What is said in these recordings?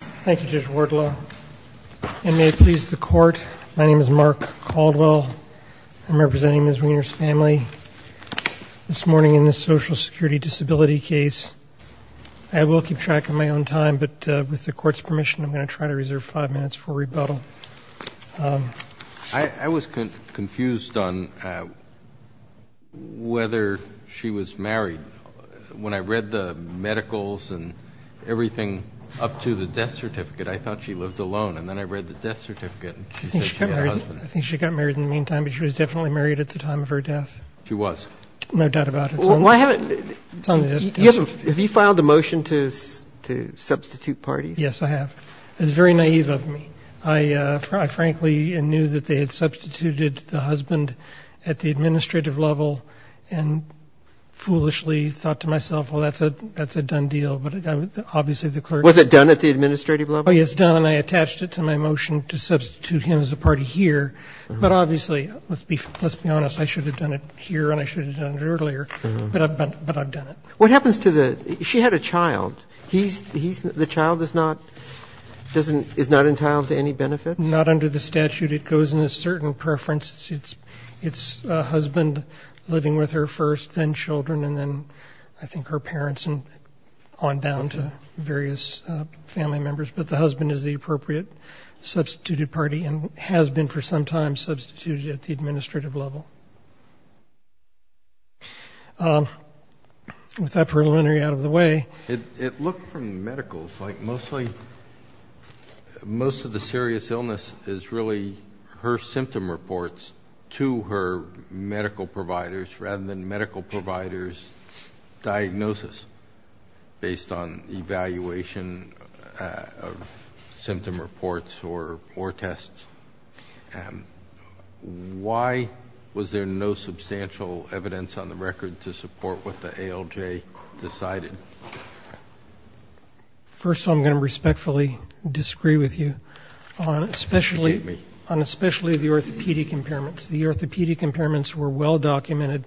Thank you, Judge Wardlaw, and may it please the Court, my name is Mark Caldwell. I'm representing Ms. Weiner's family this morning in this social security disability case. I will keep track of my own time, but with the court's permission, I'm going to try to reserve five minutes for rebuttal. I was confused on whether she was married. When I read the medicals and everything up to the death certificate, I thought she lived alone, and then I read the death certificate and she said she had a husband. I think she got married in the meantime, but she was definitely married at the time of her death. She was. No doubt about it. Have you filed a motion to substitute parties? Yes, I have. It was very naive of me. I frankly knew that they had substituted the husband at the administrative level and foolishly thought to myself, well, that's a done deal. But obviously, the clerk said to me. Was it done at the administrative level? Oh, yes, done. And I attached it to my motion to substitute him as a party here. But obviously, let's be honest, I should have done it here and I should have done it earlier. But I've done it. What happens to the – she had a child. The child is not – is not entitled to any benefits? Not under the statute. It goes in a certain preference. It's a husband living with her first, then children, and then I think her parents and on down to various family members. But the husband is the appropriate substituted party and has been for some time substituted at the administrative level. With that preliminary out of the way. It looked from medicals like mostly – most of the serious illness is really her symptom reports to her medical providers rather than medical providers' diagnosis based on evaluation of symptom reports or tests. Why was there no substantial evidence on the record to support what the ALJ decided? First of all, I'm going to respectfully disagree with you on especially the orthopedic impairments. The orthopedic impairments were well documented,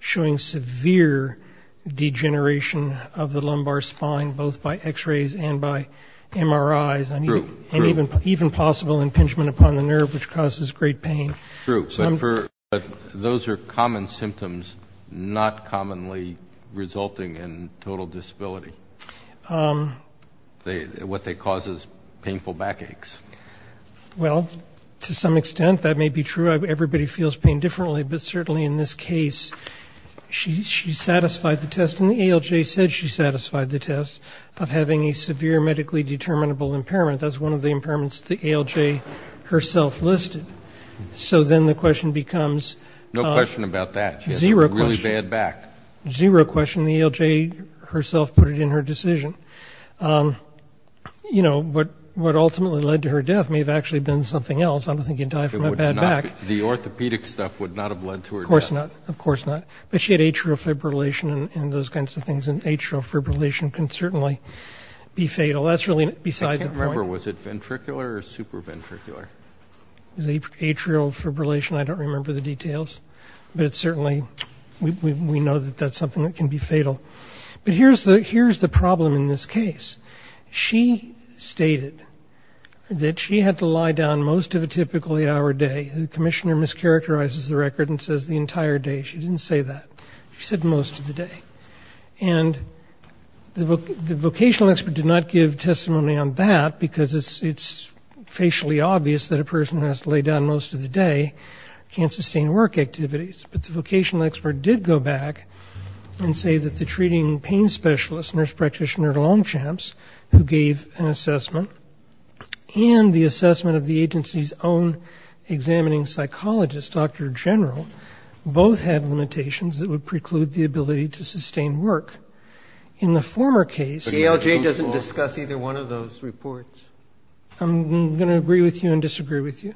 showing severe degeneration of the lumbar spine, both by X-rays and by MRIs. True. And even possible impingement upon the nerve, which causes great pain. True. But those are common symptoms not commonly resulting in total disability. What they cause is painful backaches. Well, to some extent that may be true. Everybody feels pain differently, but certainly in this case she satisfied the test, and the ALJ said she satisfied the test of having a severe medically determinable impairment. That's one of the impairments the ALJ herself listed. So then the question becomes – No question about that. Zero question. She has a really bad back. Zero question. The ALJ herself put it in her decision. You know, what ultimately led to her death may have actually been something else. I don't think you'd die from a bad back. The orthopedic stuff would not have led to her death. Of course not. Of course not. But she had atrial fibrillation and those kinds of things, and atrial fibrillation can certainly be fatal. Well, that's really beside the point. I can't remember. Was it ventricular or supraventricular? Atrial fibrillation, I don't remember the details. But certainly we know that that's something that can be fatal. But here's the problem in this case. She stated that she had to lie down most of a typical eight-hour day. The commissioner mischaracterizes the record and says the entire day. She didn't say that. She said most of the day. And the vocational expert did not give testimony on that, because it's facially obvious that a person who has to lay down most of the day can't sustain work activities. But the vocational expert did go back and say that the treating pain specialist, nurse practitioner Longchamps, who gave an assessment, and the assessment of the agency's own examining psychologist, Dr. General, both had limitations that would preclude the ability to sustain work. In the former case the ALJ doesn't discuss either one of those reports. I'm going to agree with you and disagree with you.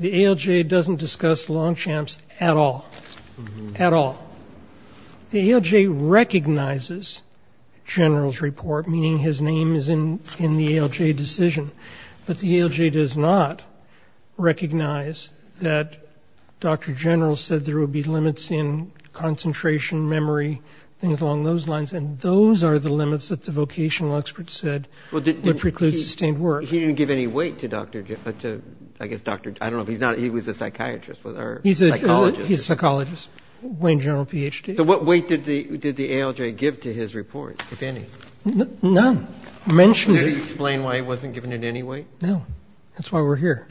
The ALJ doesn't discuss Longchamps at all, at all. The ALJ recognizes General's report, meaning his name is in the ALJ decision. But the ALJ does not recognize that Dr. General said there would be limits in concentration, memory, things along those lines. And those are the limits that the vocational expert said would preclude sustained work. He didn't give any weight to Dr. General. I don't know if he's not. He was a psychiatrist. He's a psychologist. Wayne General PhD. So what weight did the ALJ give to his report, if any? None. He didn't mention it. Did he explain why he wasn't given any weight? No. That's why we're here.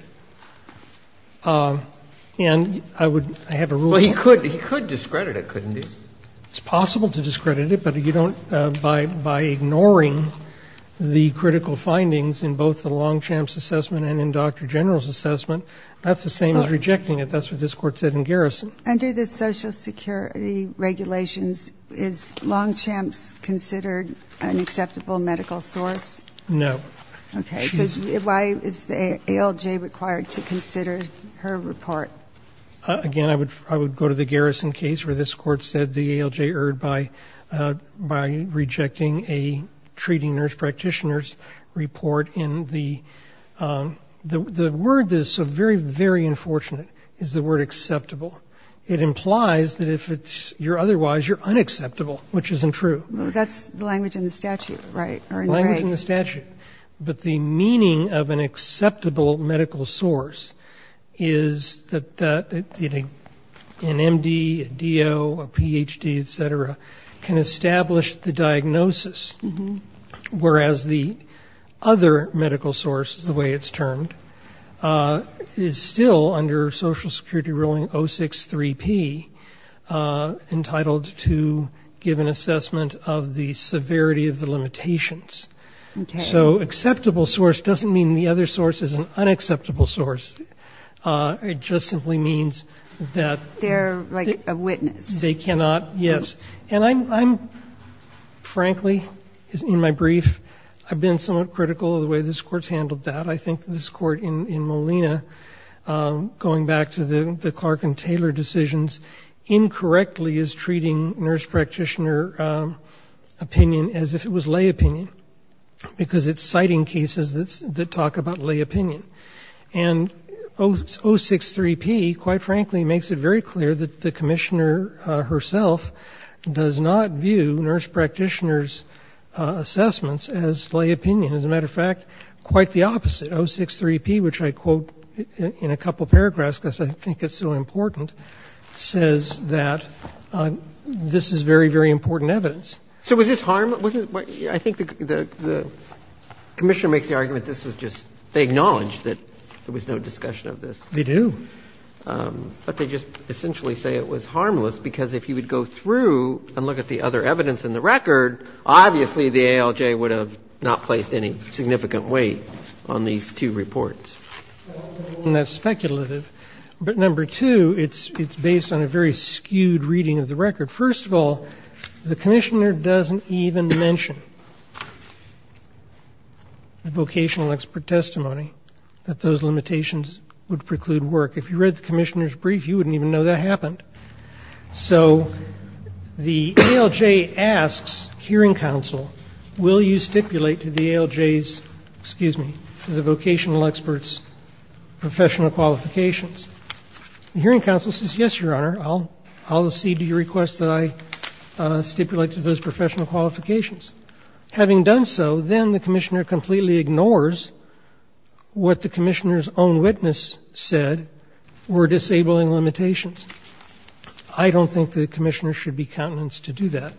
And I would have a rule of thumb. Well, he could discredit it, couldn't he? It's possible to discredit it, but you don't, by ignoring the critical findings in both the Longchamps assessment and in Dr. General's assessment, that's the same as rejecting it. That's what this Court said in Garrison. Under the Social Security regulations, is Longchamps considered an acceptable medical source? No. Okay. So why is the ALJ required to consider her report? Again, I would go to the Garrison case, where this Court said the ALJ erred by rejecting a treating nurse practitioner's report. The word that is so very, very unfortunate is the word acceptable. It implies that if you're otherwise, you're unacceptable, which isn't true. That's the language in the statute, right? Language in the statute. But the meaning of an acceptable medical source is that an MD, a DO, a PhD, et cetera, can establish the diagnosis. Whereas the other medical source, the way it's termed, is still under Social Security ruling 063P, entitled to give an assessment of the severity of the limitations. Okay. So acceptable source doesn't mean the other source is an unacceptable source. It just simply means that they're like a witness. They cannot, yes. And I'm, frankly, in my brief, I've been somewhat critical of the way this Court's handled that. I think this Court in Molina, going back to the Clark and Taylor decisions, incorrectly is treating nurse practitioner opinion as if it was lay opinion, because it's citing cases that talk about lay opinion. And 063P, quite frankly, makes it very clear that the Commissioner herself does not view nurse practitioners' assessments as lay opinion. As a matter of fact, quite the opposite. 063P, which I quote in a couple paragraphs because I think it's so important, says that this is very, very important evidence. So was this harmless? I think the Commissioner makes the argument this was just they acknowledged that there was no discussion of this. They do. But they just essentially say it was harmless, because if you would go through and look at the other evidence in the record, obviously the ALJ would have not placed any significant weight on these two reports. And that's speculative. But number two, it's based on a very skewed reading of the record. First of all, the Commissioner doesn't even mention the vocational expert testimony that those limitations would preclude work. If you read the Commissioner's brief, you wouldn't even know that happened. So the ALJ asks hearing counsel, will you stipulate to the ALJ's, excuse me, to the vocational experts' professional qualifications? The hearing counsel says, yes, Your Honor, I'll accede to your request that I stipulate to those professional qualifications. Having done so, then the Commissioner completely ignores what the Commissioner's own witness said were disabling limitations. I don't think the Commissioner should be countenanced to do that.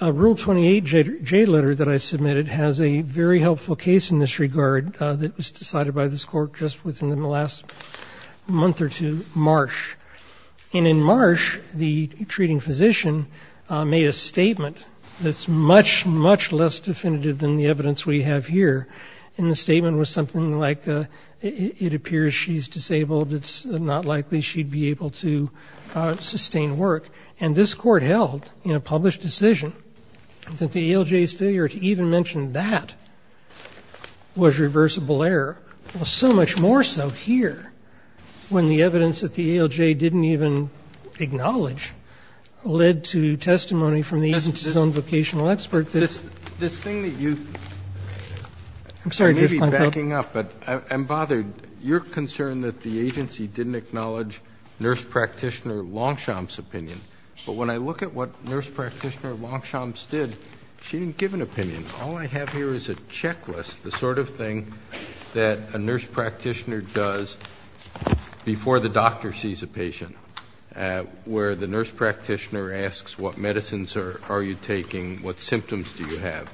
Rule 28J letter that I submitted has a very helpful case in this regard that was decided by this Court just within the last month or two, Marsh. And in Marsh, the treating physician made a statement that's much, much less definitive than the evidence we have here. And the statement was something like, it appears she's disabled, it's not likely she'd be able to sustain work. And this Court held in a published decision that the ALJ's failure to even mention that was reversible error. It was so much more so here when the evidence that the ALJ didn't even acknowledge led to testimony from the agency's own vocational expert. This thing that you're backing up, but I'm bothered. You're concerned that the agency didn't acknowledge Nurse Practitioner Longchamp's opinion, but when I look at what Nurse Practitioner Longchamp's did, she didn't give an opinion. All I have here is a checklist, the sort of thing that a nurse practitioner does before the doctor sees a patient, where the nurse practitioner asks what medicines are you taking, what symptoms do you have,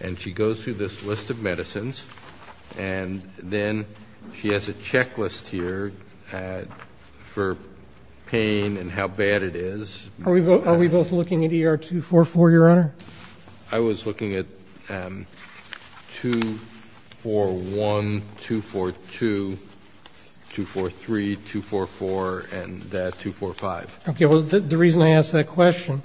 and she goes through this list of medicines and then she has a checklist here for pain and how bad it is. Are we both looking at ER 244, Your Honor? I was looking at 241, 242, 243, 244, and 245. Okay, well, the reason I ask that question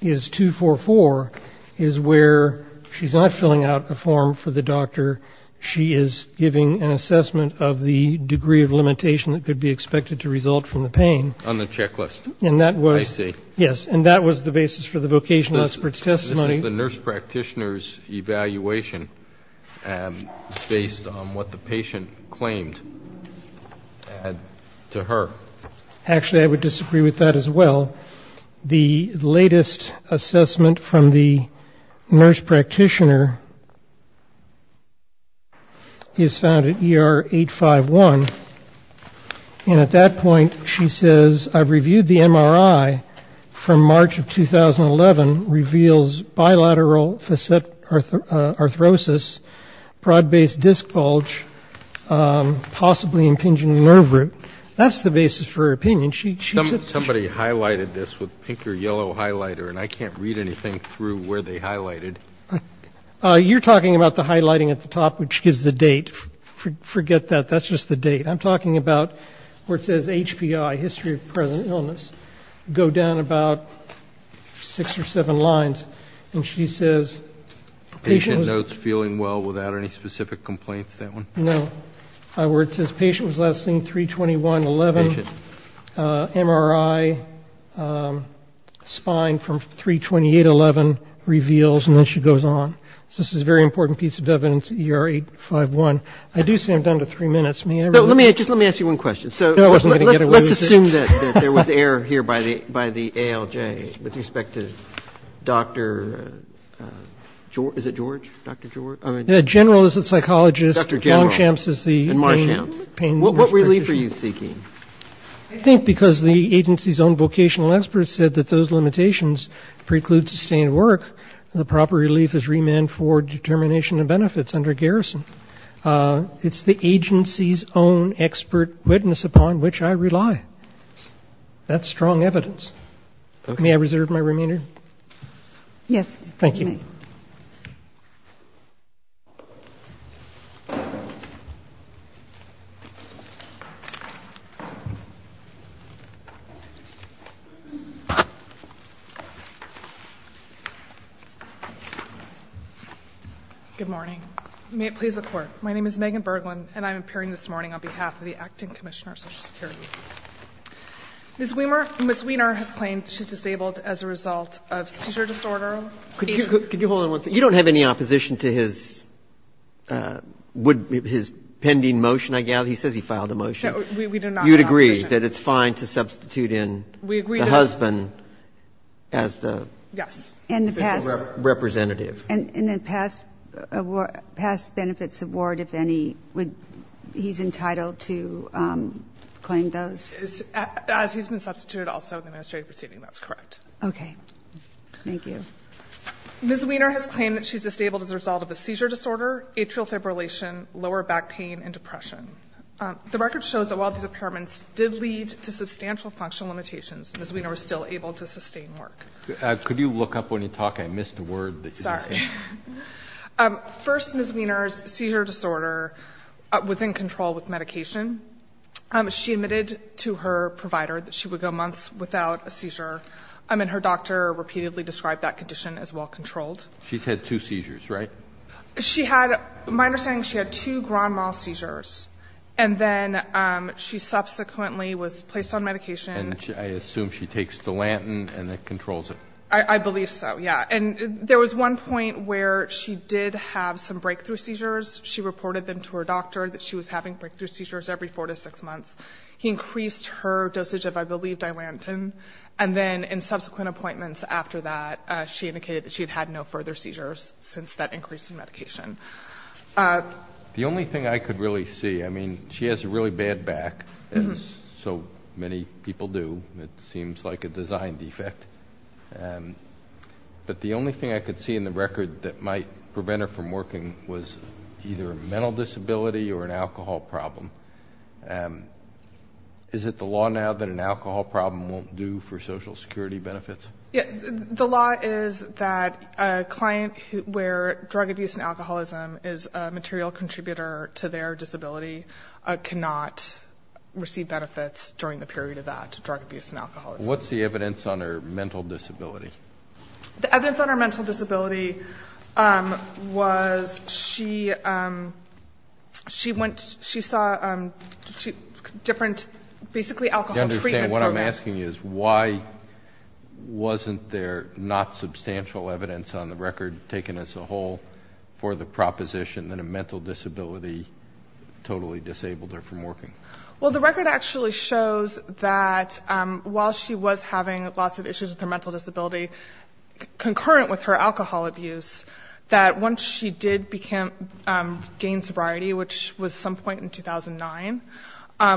is 244 is where she's not filling out a form for the doctor, she is giving an assessment of the degree of limitation that could be expected to result from the pain. On the checklist, I see. Yes, and that was the basis for the vocational expert's testimony. This is the nurse practitioner's evaluation based on what the patient claimed to her. Actually, I would disagree with that as well. The latest assessment from the nurse practitioner is found at ER 851, and at that point she says, I've reviewed the MRI from March of 2011, reveals bilateral facet arthrosis, broad-based disc bulge, possibly impinging nerve root. That's the basis for her opinion. Somebody highlighted this with pink or yellow highlighter, and I can't read anything through where they highlighted. You're talking about the highlighting at the top, which gives the date. Forget that. That's just the date. I'm talking about where it says HPI, history of present illness, go down about six or seven lines, and she says patient was last seen 3-21-11, MRI spine from 3-28-11 reveals, and then she goes on. So this is a very important piece of evidence at ER 851. I do say I'm down to three minutes. Let's assume that there was error here by the ALJ with respect to Dr. George. General is the psychologist. What relief are you seeking? I think because the agency's own vocational experts said that those limitations preclude sustained work, and the proper evidence is that it's the agency's own expert witness upon which I rely. That's strong evidence. May I reserve my remainder? Yes. Thank you. Ms. Weiner has claimed she's disabled as a result of seizure disorder. Could you hold on one second? You don't have any opposition to his pending motion, I gather. He says he filed a motion. We do not have opposition. You would agree that it's fine to substitute in the husband as the representative? Yes. And the past benefits award, if any, he's entitled to claim those? As he's been substituted also in the administrative proceeding, that's correct. Okay. Thank you. Ms. Weiner has claimed that she's disabled as a result of a seizure disorder, atrial fibrillation, lower back pain, and depression. The record shows that while these impairments did lead to substantial functional limitations, Ms. Weiner was still able to sustain work. Could you look up when you talk? I missed a word that you just said. Sorry. First, Ms. Weiner's seizure disorder was in control with medication. She admitted to her provider that she would go months without a seizure. And her doctor repeatedly described that condition as well-controlled. She's had two seizures, right? She had – my understanding is she had two grand mal seizures, and then she subsequently was placed on medication. And I assume she takes Dilantin and then controls it. I believe so, yes. And there was one point where she did have some breakthrough seizures. She reported them to her doctor that she was having breakthrough seizures every 4 to 6 months. He increased her dosage of, I believe, Dilantin. And then in subsequent appointments after that, she indicated that she had had no further seizures since that increase in medication. The only thing I could really see – I mean, she has a really bad back, as so many people do. It seems like a design defect. But the only thing I could see in the record that might prevent her from working was either a mental disability or an alcohol problem. Is it the law now that an alcohol problem won't do for Social Security benefits? The law is that a client where drug abuse and alcoholism is a material contributor to their disability cannot receive benefits during the period of that drug abuse and alcoholism. What's the evidence on her mental disability? The evidence on her mental disability was she saw different basically alcohol treatment programs. I understand. What I'm asking you is why wasn't there not substantial evidence on the record taken as a whole for the proposition that a mental disability totally disabled her from working? Well, the record actually shows that while she was having lots of issues with her mental disability concurrent with her alcohol abuse, that once she did gain sobriety, which was some point in 2009,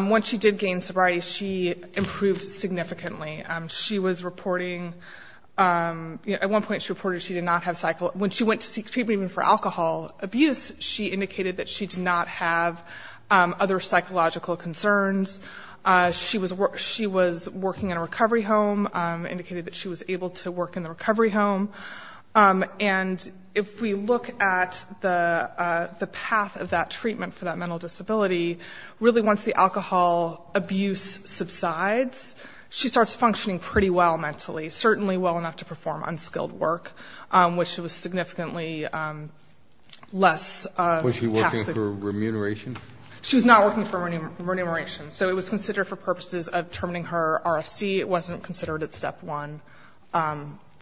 once she did gain sobriety, she improved significantly. She was reporting – at one point she reported she did not have – when she went to seek treatment even for alcohol abuse, she indicated that she did not have other psychological concerns. She was working in a recovery home, indicated that she was able to work in the recovery home. And if we look at the path of that treatment for that mental disability, really once the alcohol abuse subsides, she starts functioning pretty well mentally, certainly well enough to perform unskilled work, which was significantly less taxable. Was she working for remuneration? She was not working for remuneration. So it was considered for purposes of determining her RFC. It wasn't considered at Step 1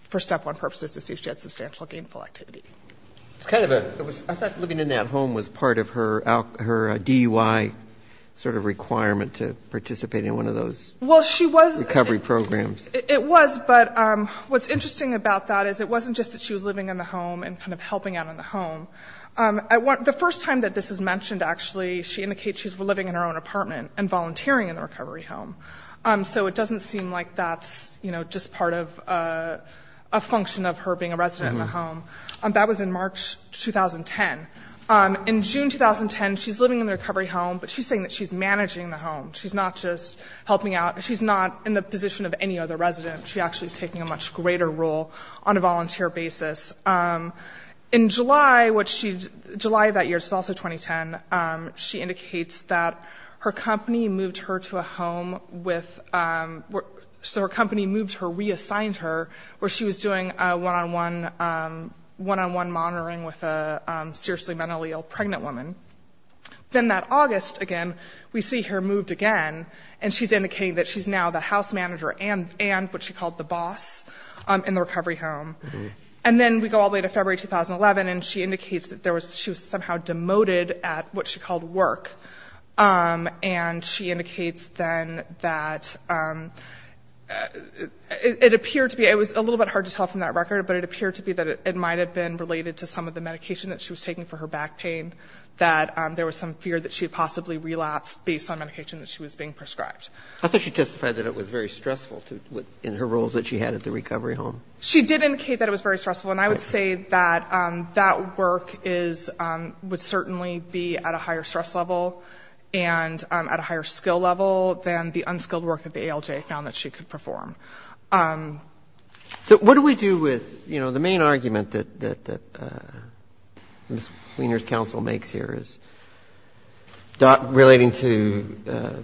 for Step 1 purposes to see if she had substantial gainful activity. It's kind of a – I thought living in that home was part of her DUI sort of requirement to participate in one of those recovery programs. It was, but what's interesting about that is it wasn't just that she was living in the home and kind of helping out in the home. The first time that this is mentioned, actually, she indicates she's living in her own apartment and volunteering in the recovery home. So it doesn't seem like that's, you know, just part of a function of her being a resident in the home. That was in March 2010. In June 2010, she's living in the recovery home, but she's saying that she's managing the home. She's not just helping out. She's not in the position of any other resident. She actually is taking a much greater role on a volunteer basis. In July of that year, which is also 2010, she indicates that her company moved her to a home with – so her company moved her, reassigned her, where she was doing a one-on-one monitoring with a seriously mentally ill pregnant woman. Then that August, again, we see her moved again, and she's indicating that she's now the house manager and what she called the boss in the recovery home. And then we go all the way to February 2011, and she indicates that she was somehow demoted at what she called work. And she indicates then that it appeared to be – it was a little bit hard to tell from that record, but it appeared to be that it might have been related to some of the medication that she was taking for her back pain, that there was some fear that she had possibly relapsed based on medication that she was being prescribed. I thought she testified that it was very stressful in her roles that she had at the recovery home. She did indicate that it was very stressful. And I would say that that work is – would certainly be at a higher stress level and at a higher skill level than the unskilled work that the ALJ found that she could perform. So what do we do with, you know, the main argument that Ms. Wiener's counsel makes here is relating to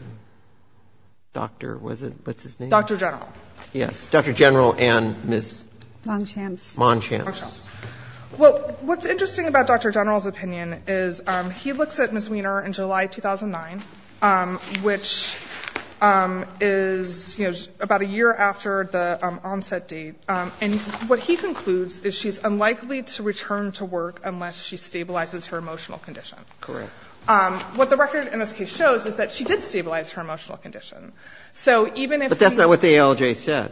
Dr. – what's his name? Dr. General. Yes. Dr. General and Ms. Monchamps. Monchamps. Well, what's interesting about Dr. General's opinion is he looks at Ms. Wiener in July 2009, which is, you know, about a year after the onset date. And what he concludes is she's unlikely to return to work unless she stabilizes her emotional condition. Correct. What the record in this case shows is that she did stabilize her emotional condition. So even if we – But that's not what the ALJ said.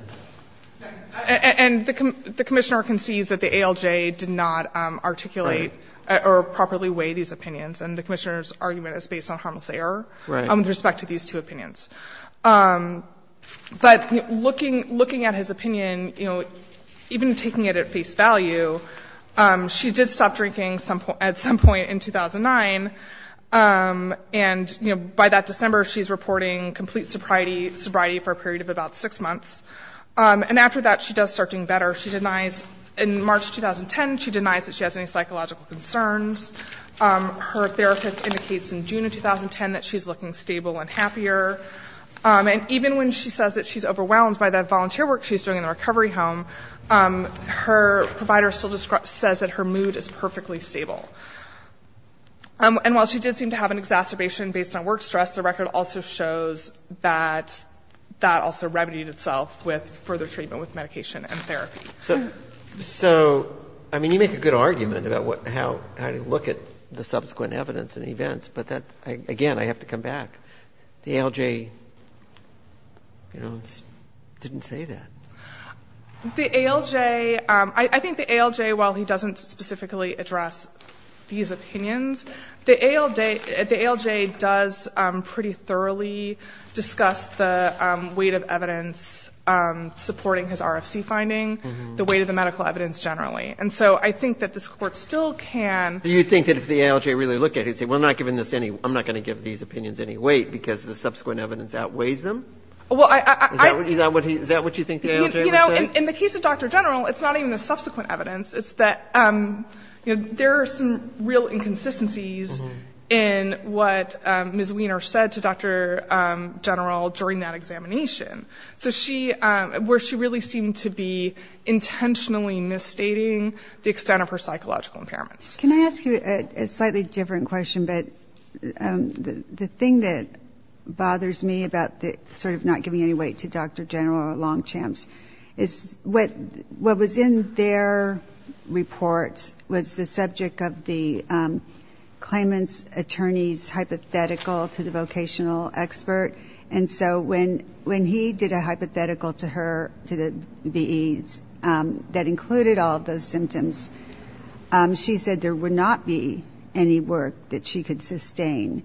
And the commissioner concedes that the ALJ did not articulate or properly weigh these opinions. And the commissioner's argument is based on harmless error with respect to these two opinions. But looking at his opinion, you know, even taking it at face value, she did stop drinking at some point in 2009. And, you know, by that December she's reporting complete sobriety for a period of about six months. And after that, she does start doing better. She denies – in March 2010, she denies that she has any psychological concerns. Her therapist indicates in June of 2010 that she's looking stable and happier. And even when she says that she's overwhelmed by the volunteer work she's doing in the recovery home, her provider still says that her mood is perfectly stable. And while she did seem to have an exacerbation based on work stress, the record also shows that that also remedied itself with further treatment with medication and therapy. So, I mean, you make a good argument about how to look at the subsequent evidence and events, but that – again, I have to come back. The ALJ, you know, didn't say that. The ALJ – I think the ALJ, while he doesn't specifically address these opinions, the ALJ does pretty thoroughly discuss the weight of evidence supporting his RFC finding, the weight of the medical evidence generally. And so I think that this Court still can – Do you think that if the ALJ really looked at it, it would say, well, I'm not giving this any – I'm not going to give these opinions any weight because the subsequent evidence outweighs them? Is that what you think the ALJ – You know, in the case of Dr. General, it's not even the subsequent evidence. It's that there are some real inconsistencies in what Ms. Wiener said to Dr. General during that examination. So she – where she really seemed to be intentionally misstating the extent of her psychological impairments. Can I ask you a slightly different question? But the thing that bothers me about sort of not giving any weight to Dr. General or Longchamps is what was in their report was the subject of the claimant's attorney's hypothetical to the vocational expert. And so when he did a hypothetical to her, to the VEs, that included all of those symptoms, she said there would not be any work that she could sustain.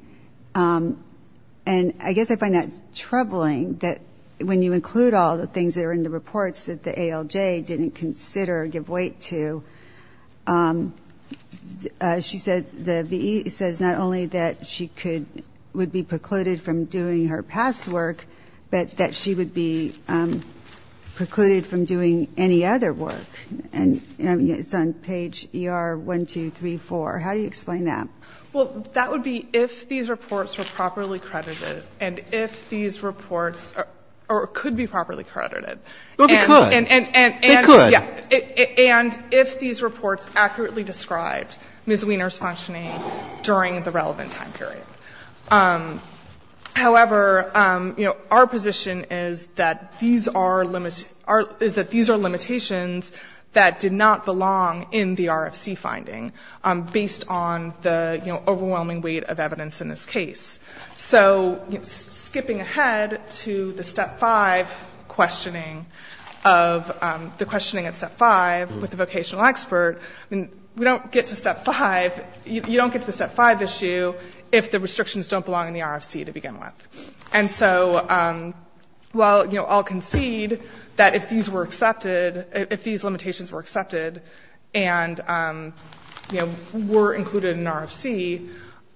And I guess I find that troubling that when you include all the things that are in the reports that the ALJ didn't consider or give weight to, she said the VE says not only that she could – would be precluded from doing her past work, but that she would be precluded from doing any other work. And it's on page ER-1234. How do you explain that? Well, that would be if these reports were properly credited and if these reports could be properly credited. Well, they could. They could. And if these reports accurately described Ms. Wiener's functioning during the relevant time period. However, our position is that these are limitations that did not belong in the RFC finding, based on the overwhelming weight of evidence in this case. So skipping ahead to the Step 5 questioning of the questioning at Step 5 with the vocational expert, I mean, we don't get to Step 5. You don't get to the Step 5 issue if the restrictions don't belong in the RFC to begin with. And so while, you know, I'll concede that if these were accepted, if these limitations were accepted and, you know, were included in the RFC,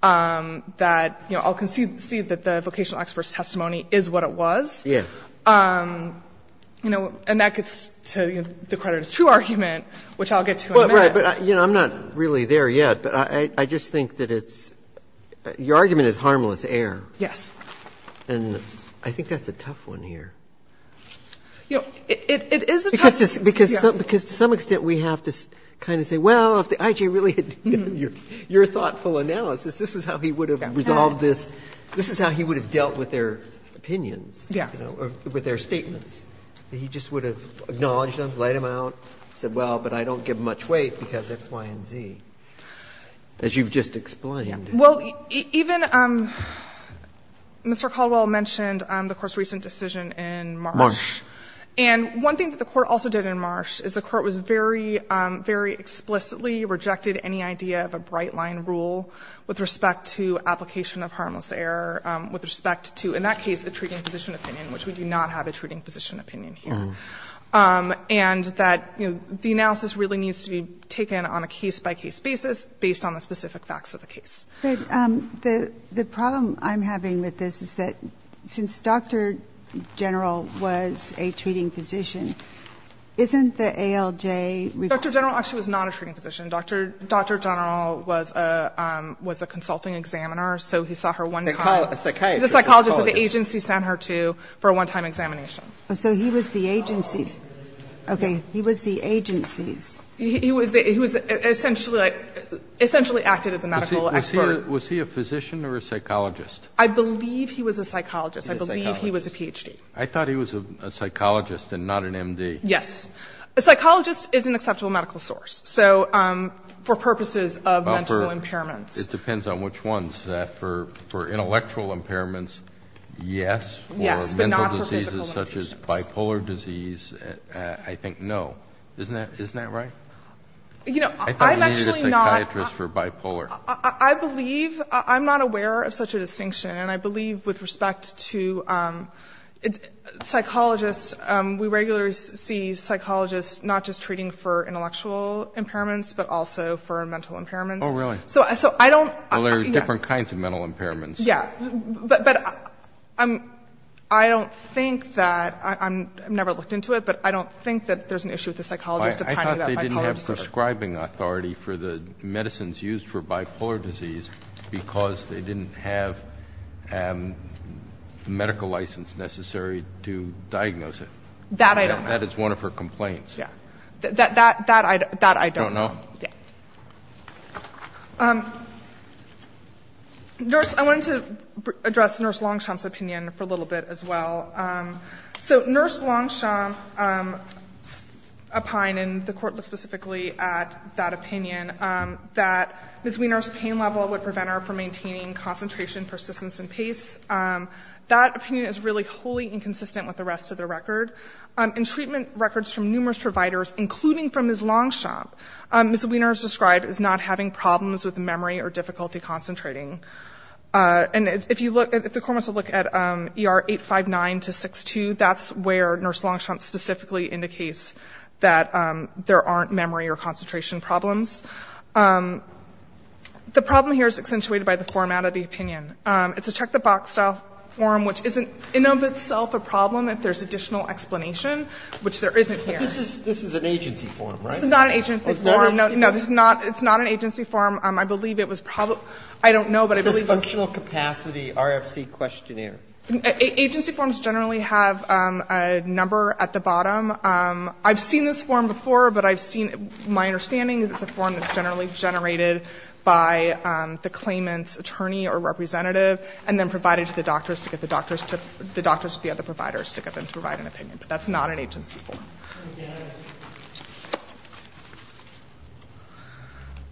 that, you know, I'll concede that the vocational expert's testimony is what it was. Yes. You know, and that gets to the creditors' true argument, which I'll get to in a minute. Right. But, you know, I'm not really there yet, but I just think that it's, your argument is harmless air. Yes. And I think that's a tough one here. You know, it is a tough one. Because to some extent we have to kind of say, well, if the IG really had done your thoughtful analysis, this is how he would have resolved this. This is how he would have dealt with their opinions. Yeah. You know, with their statements. He just would have acknowledged them, laid them out, said, well, but I don't give much weight because X, Y, and Z. As you've just explained. Yeah. Well, even Mr. Caldwell mentioned the Court's recent decision in Marsh. Marsh. And one thing that the Court also did in Marsh is the Court was very, very explicitly rejected any idea of a bright-line rule with respect to application of harmless error with respect to, in that case, a treating physician opinion, which we do not have a treating physician opinion here. And that, you know, the analysis really needs to be taken on a case-by-case basis based on the specific facts of the case. But the problem I'm having with this is that since Dr. General was a treating physician, isn't the ALJ? Dr. General actually was not a treating physician. Dr. General was a consulting examiner. So he saw her one time. Psychiatrist. Psychologist. So the agency sent her to for a one-time examination. So he was the agency's. Okay. He was the agency's. He was essentially acted as a medical expert. Was he a physician or a psychologist? I believe he was a psychologist. He was a psychologist. I believe he was a Ph.D. I thought he was a psychologist and not an M.D. Yes. A psychologist is an acceptable medical source. So for purposes of mental impairments. It depends on which ones. For intellectual impairments, yes. Yes. But not for physical impairments. For mental diseases such as bipolar disease, I think no. Isn't that right? You know, I'm actually not. I thought he needed a psychiatrist for bipolar. I believe. I'm not aware of such a distinction. And I believe with respect to psychologists, we regularly see psychologists not just treating for intellectual impairments but also for mental impairments. Oh, really? So I don't. Well, there are different kinds of mental impairments. Yeah. But I don't think that. I've never looked into it. But I don't think that there's an issue with the psychologist. I thought they didn't have prescribing authority for the medicines used for bipolar disease because they didn't have medical license necessary to diagnose it. That I don't know. Yeah. That I don't know. You don't know? Yeah. Nurse, I wanted to address Nurse Longchamp's opinion for a little bit as well. So Nurse Longchamp opined, and the court looked specifically at that opinion, that Ms. Wiener's pain level would prevent her from maintaining concentration, persistence, and pace. That opinion is really wholly inconsistent with the rest of the record. In treatment records from numerous providers, including from Ms. Longchamp, Ms. Wiener is described as not having problems with memory or difficulty concentrating. And if the court wants to look at ER 859-62, that's where Nurse Longchamp specifically indicates that there aren't memory or concentration problems. The problem here is accentuated by the format of the opinion. It's a check-the-box style form, which isn't in and of itself a problem if there's additional explanation, which there isn't here. But this is an agency form, right? It's not an agency form. Oh, it's not an agency form? No, it's not an agency form. I believe it was probably ‑‑ I don't know, but I believe it was ‑‑ It's a functional capacity RFC questionnaire. Agency forms generally have a number at the bottom. I've seen this form before, but I've seen ‑‑ my understanding is it's a form that's and then provided to the doctors to get the doctors to ‑‑ the doctors with the other providers to get them to provide an opinion. But that's not an agency form.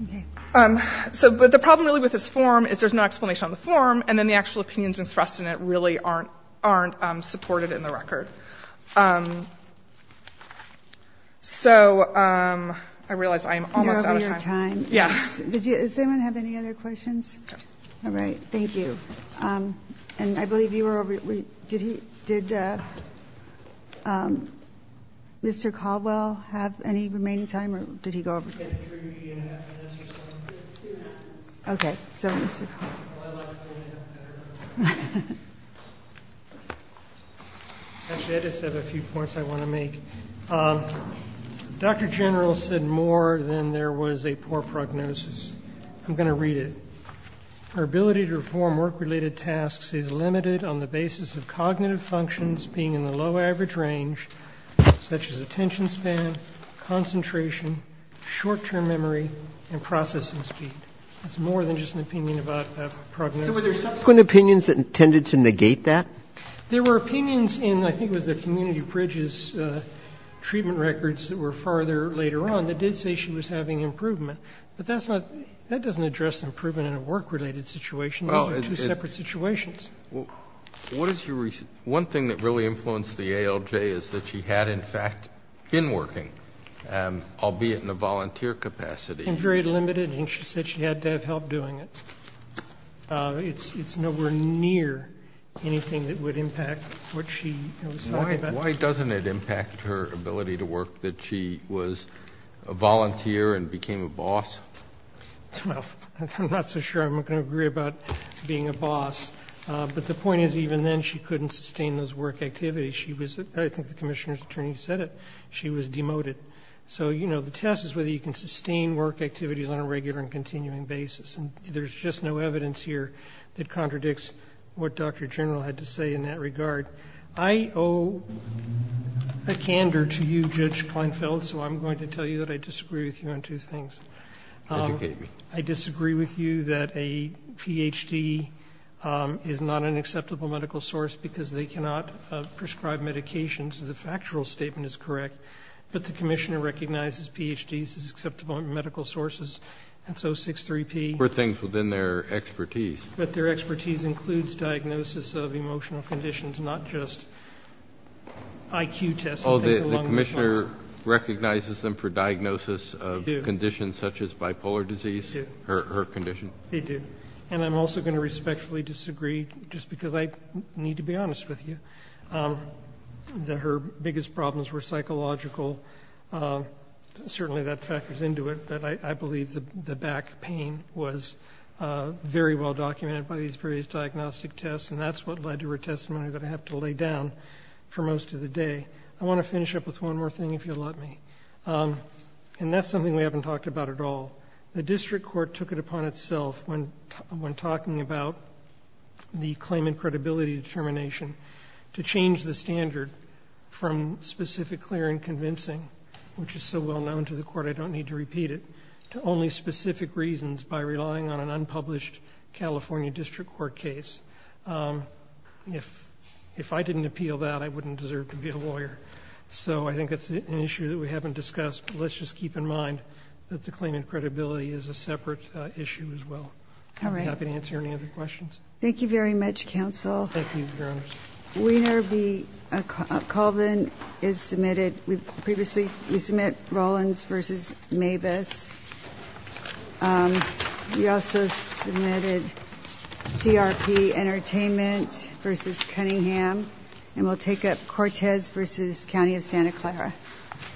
Okay. But the problem really with this form is there's no explanation on the form, and then the actual opinions expressed in it really aren't supported in the record. So I realize I'm almost out of time. You're over your time. Yes. Does anyone have any other questions? No. All right. Thank you. And I believe you were over ‑‑ did Mr. Caldwell have any remaining time, or did he go over? He had three and a half minutes or so. Two and a half minutes. Okay. So, Mr. Caldwell. Well, I'd like to hold it up better. Actually, I just have a few points I want to make. Dr. General said more than there was a poor prognosis. I'm going to read it. Her ability to perform work‑related tasks is limited on the basis of cognitive functions being in the low average range, such as attention span, concentration, short‑term memory, and processing speed. It's more than just an opinion about prognosis. So were there subsequent opinions that tended to negate that? There were opinions in, I think it was the community bridges treatment records that were farther later on that did say she was having improvement. But that doesn't address improvement in a work‑related situation. Those are two separate situations. One thing that really influenced the ALJ is that she had, in fact, been working, albeit in a volunteer capacity. And very limited, and she said she had to have help doing it. It's nowhere near anything that would impact what she was talking about. Why doesn't it impact her ability to work that she was a volunteer and became a boss? Well, I'm not so sure I'm going to agree about being a boss. But the point is, even then, she couldn't sustain those work activities. I think the commissioner's attorney said it. She was demoted. So, you know, the test is whether you can sustain work activities on a regular and continuing basis. And there's just no evidence here that contradicts what Dr. General had to say in that regard. I owe a candor to you, Judge Kleinfeld, so I'm going to tell you that I disagree with you on two things. Kennedy. I disagree with you that a Ph.D. is not an acceptable medical source because they cannot prescribe medications. The factual statement is correct. But the commissioner recognizes Ph.D.s as acceptable medical sources. And so 6.3p. Kennedy. Were things within their expertise. But their expertise includes diagnosis of emotional conditions, not just I.Q. tests. The commissioner recognizes them for diagnosis of conditions such as bipolar disease, her condition. They do. And I'm also going to respectfully disagree just because I need to be honest with you, that her biggest problems were psychological. Certainly that factors into it. But I believe the back pain was very well documented by these previous diagnostic tests. And that's what led to her testimony that I have to lay down for most of the day. I want to finish up with one more thing, if you'll let me. And that's something we haven't talked about at all. The district court took it upon itself when talking about the claimant credibility determination to change the standard from specific, clear, and convincing, which is so well known to the Court I don't need to repeat it, to only specific reasons by relying on an unpublished California district court case. If I didn't appeal that, I wouldn't deserve to be a lawyer. So I think that's an issue that we haven't discussed. But let's just keep in mind that the claimant credibility is a separate issue as well. I'd be happy to answer any other questions. Thank you very much, counsel. Thank you, Your Honor. Weiner v. Colvin is submitted. Previously, we submit Rollins v. Mabus. We also submitted TRP Entertainment v. Cunningham. And we'll take up Cortez v. County of Santa Clara.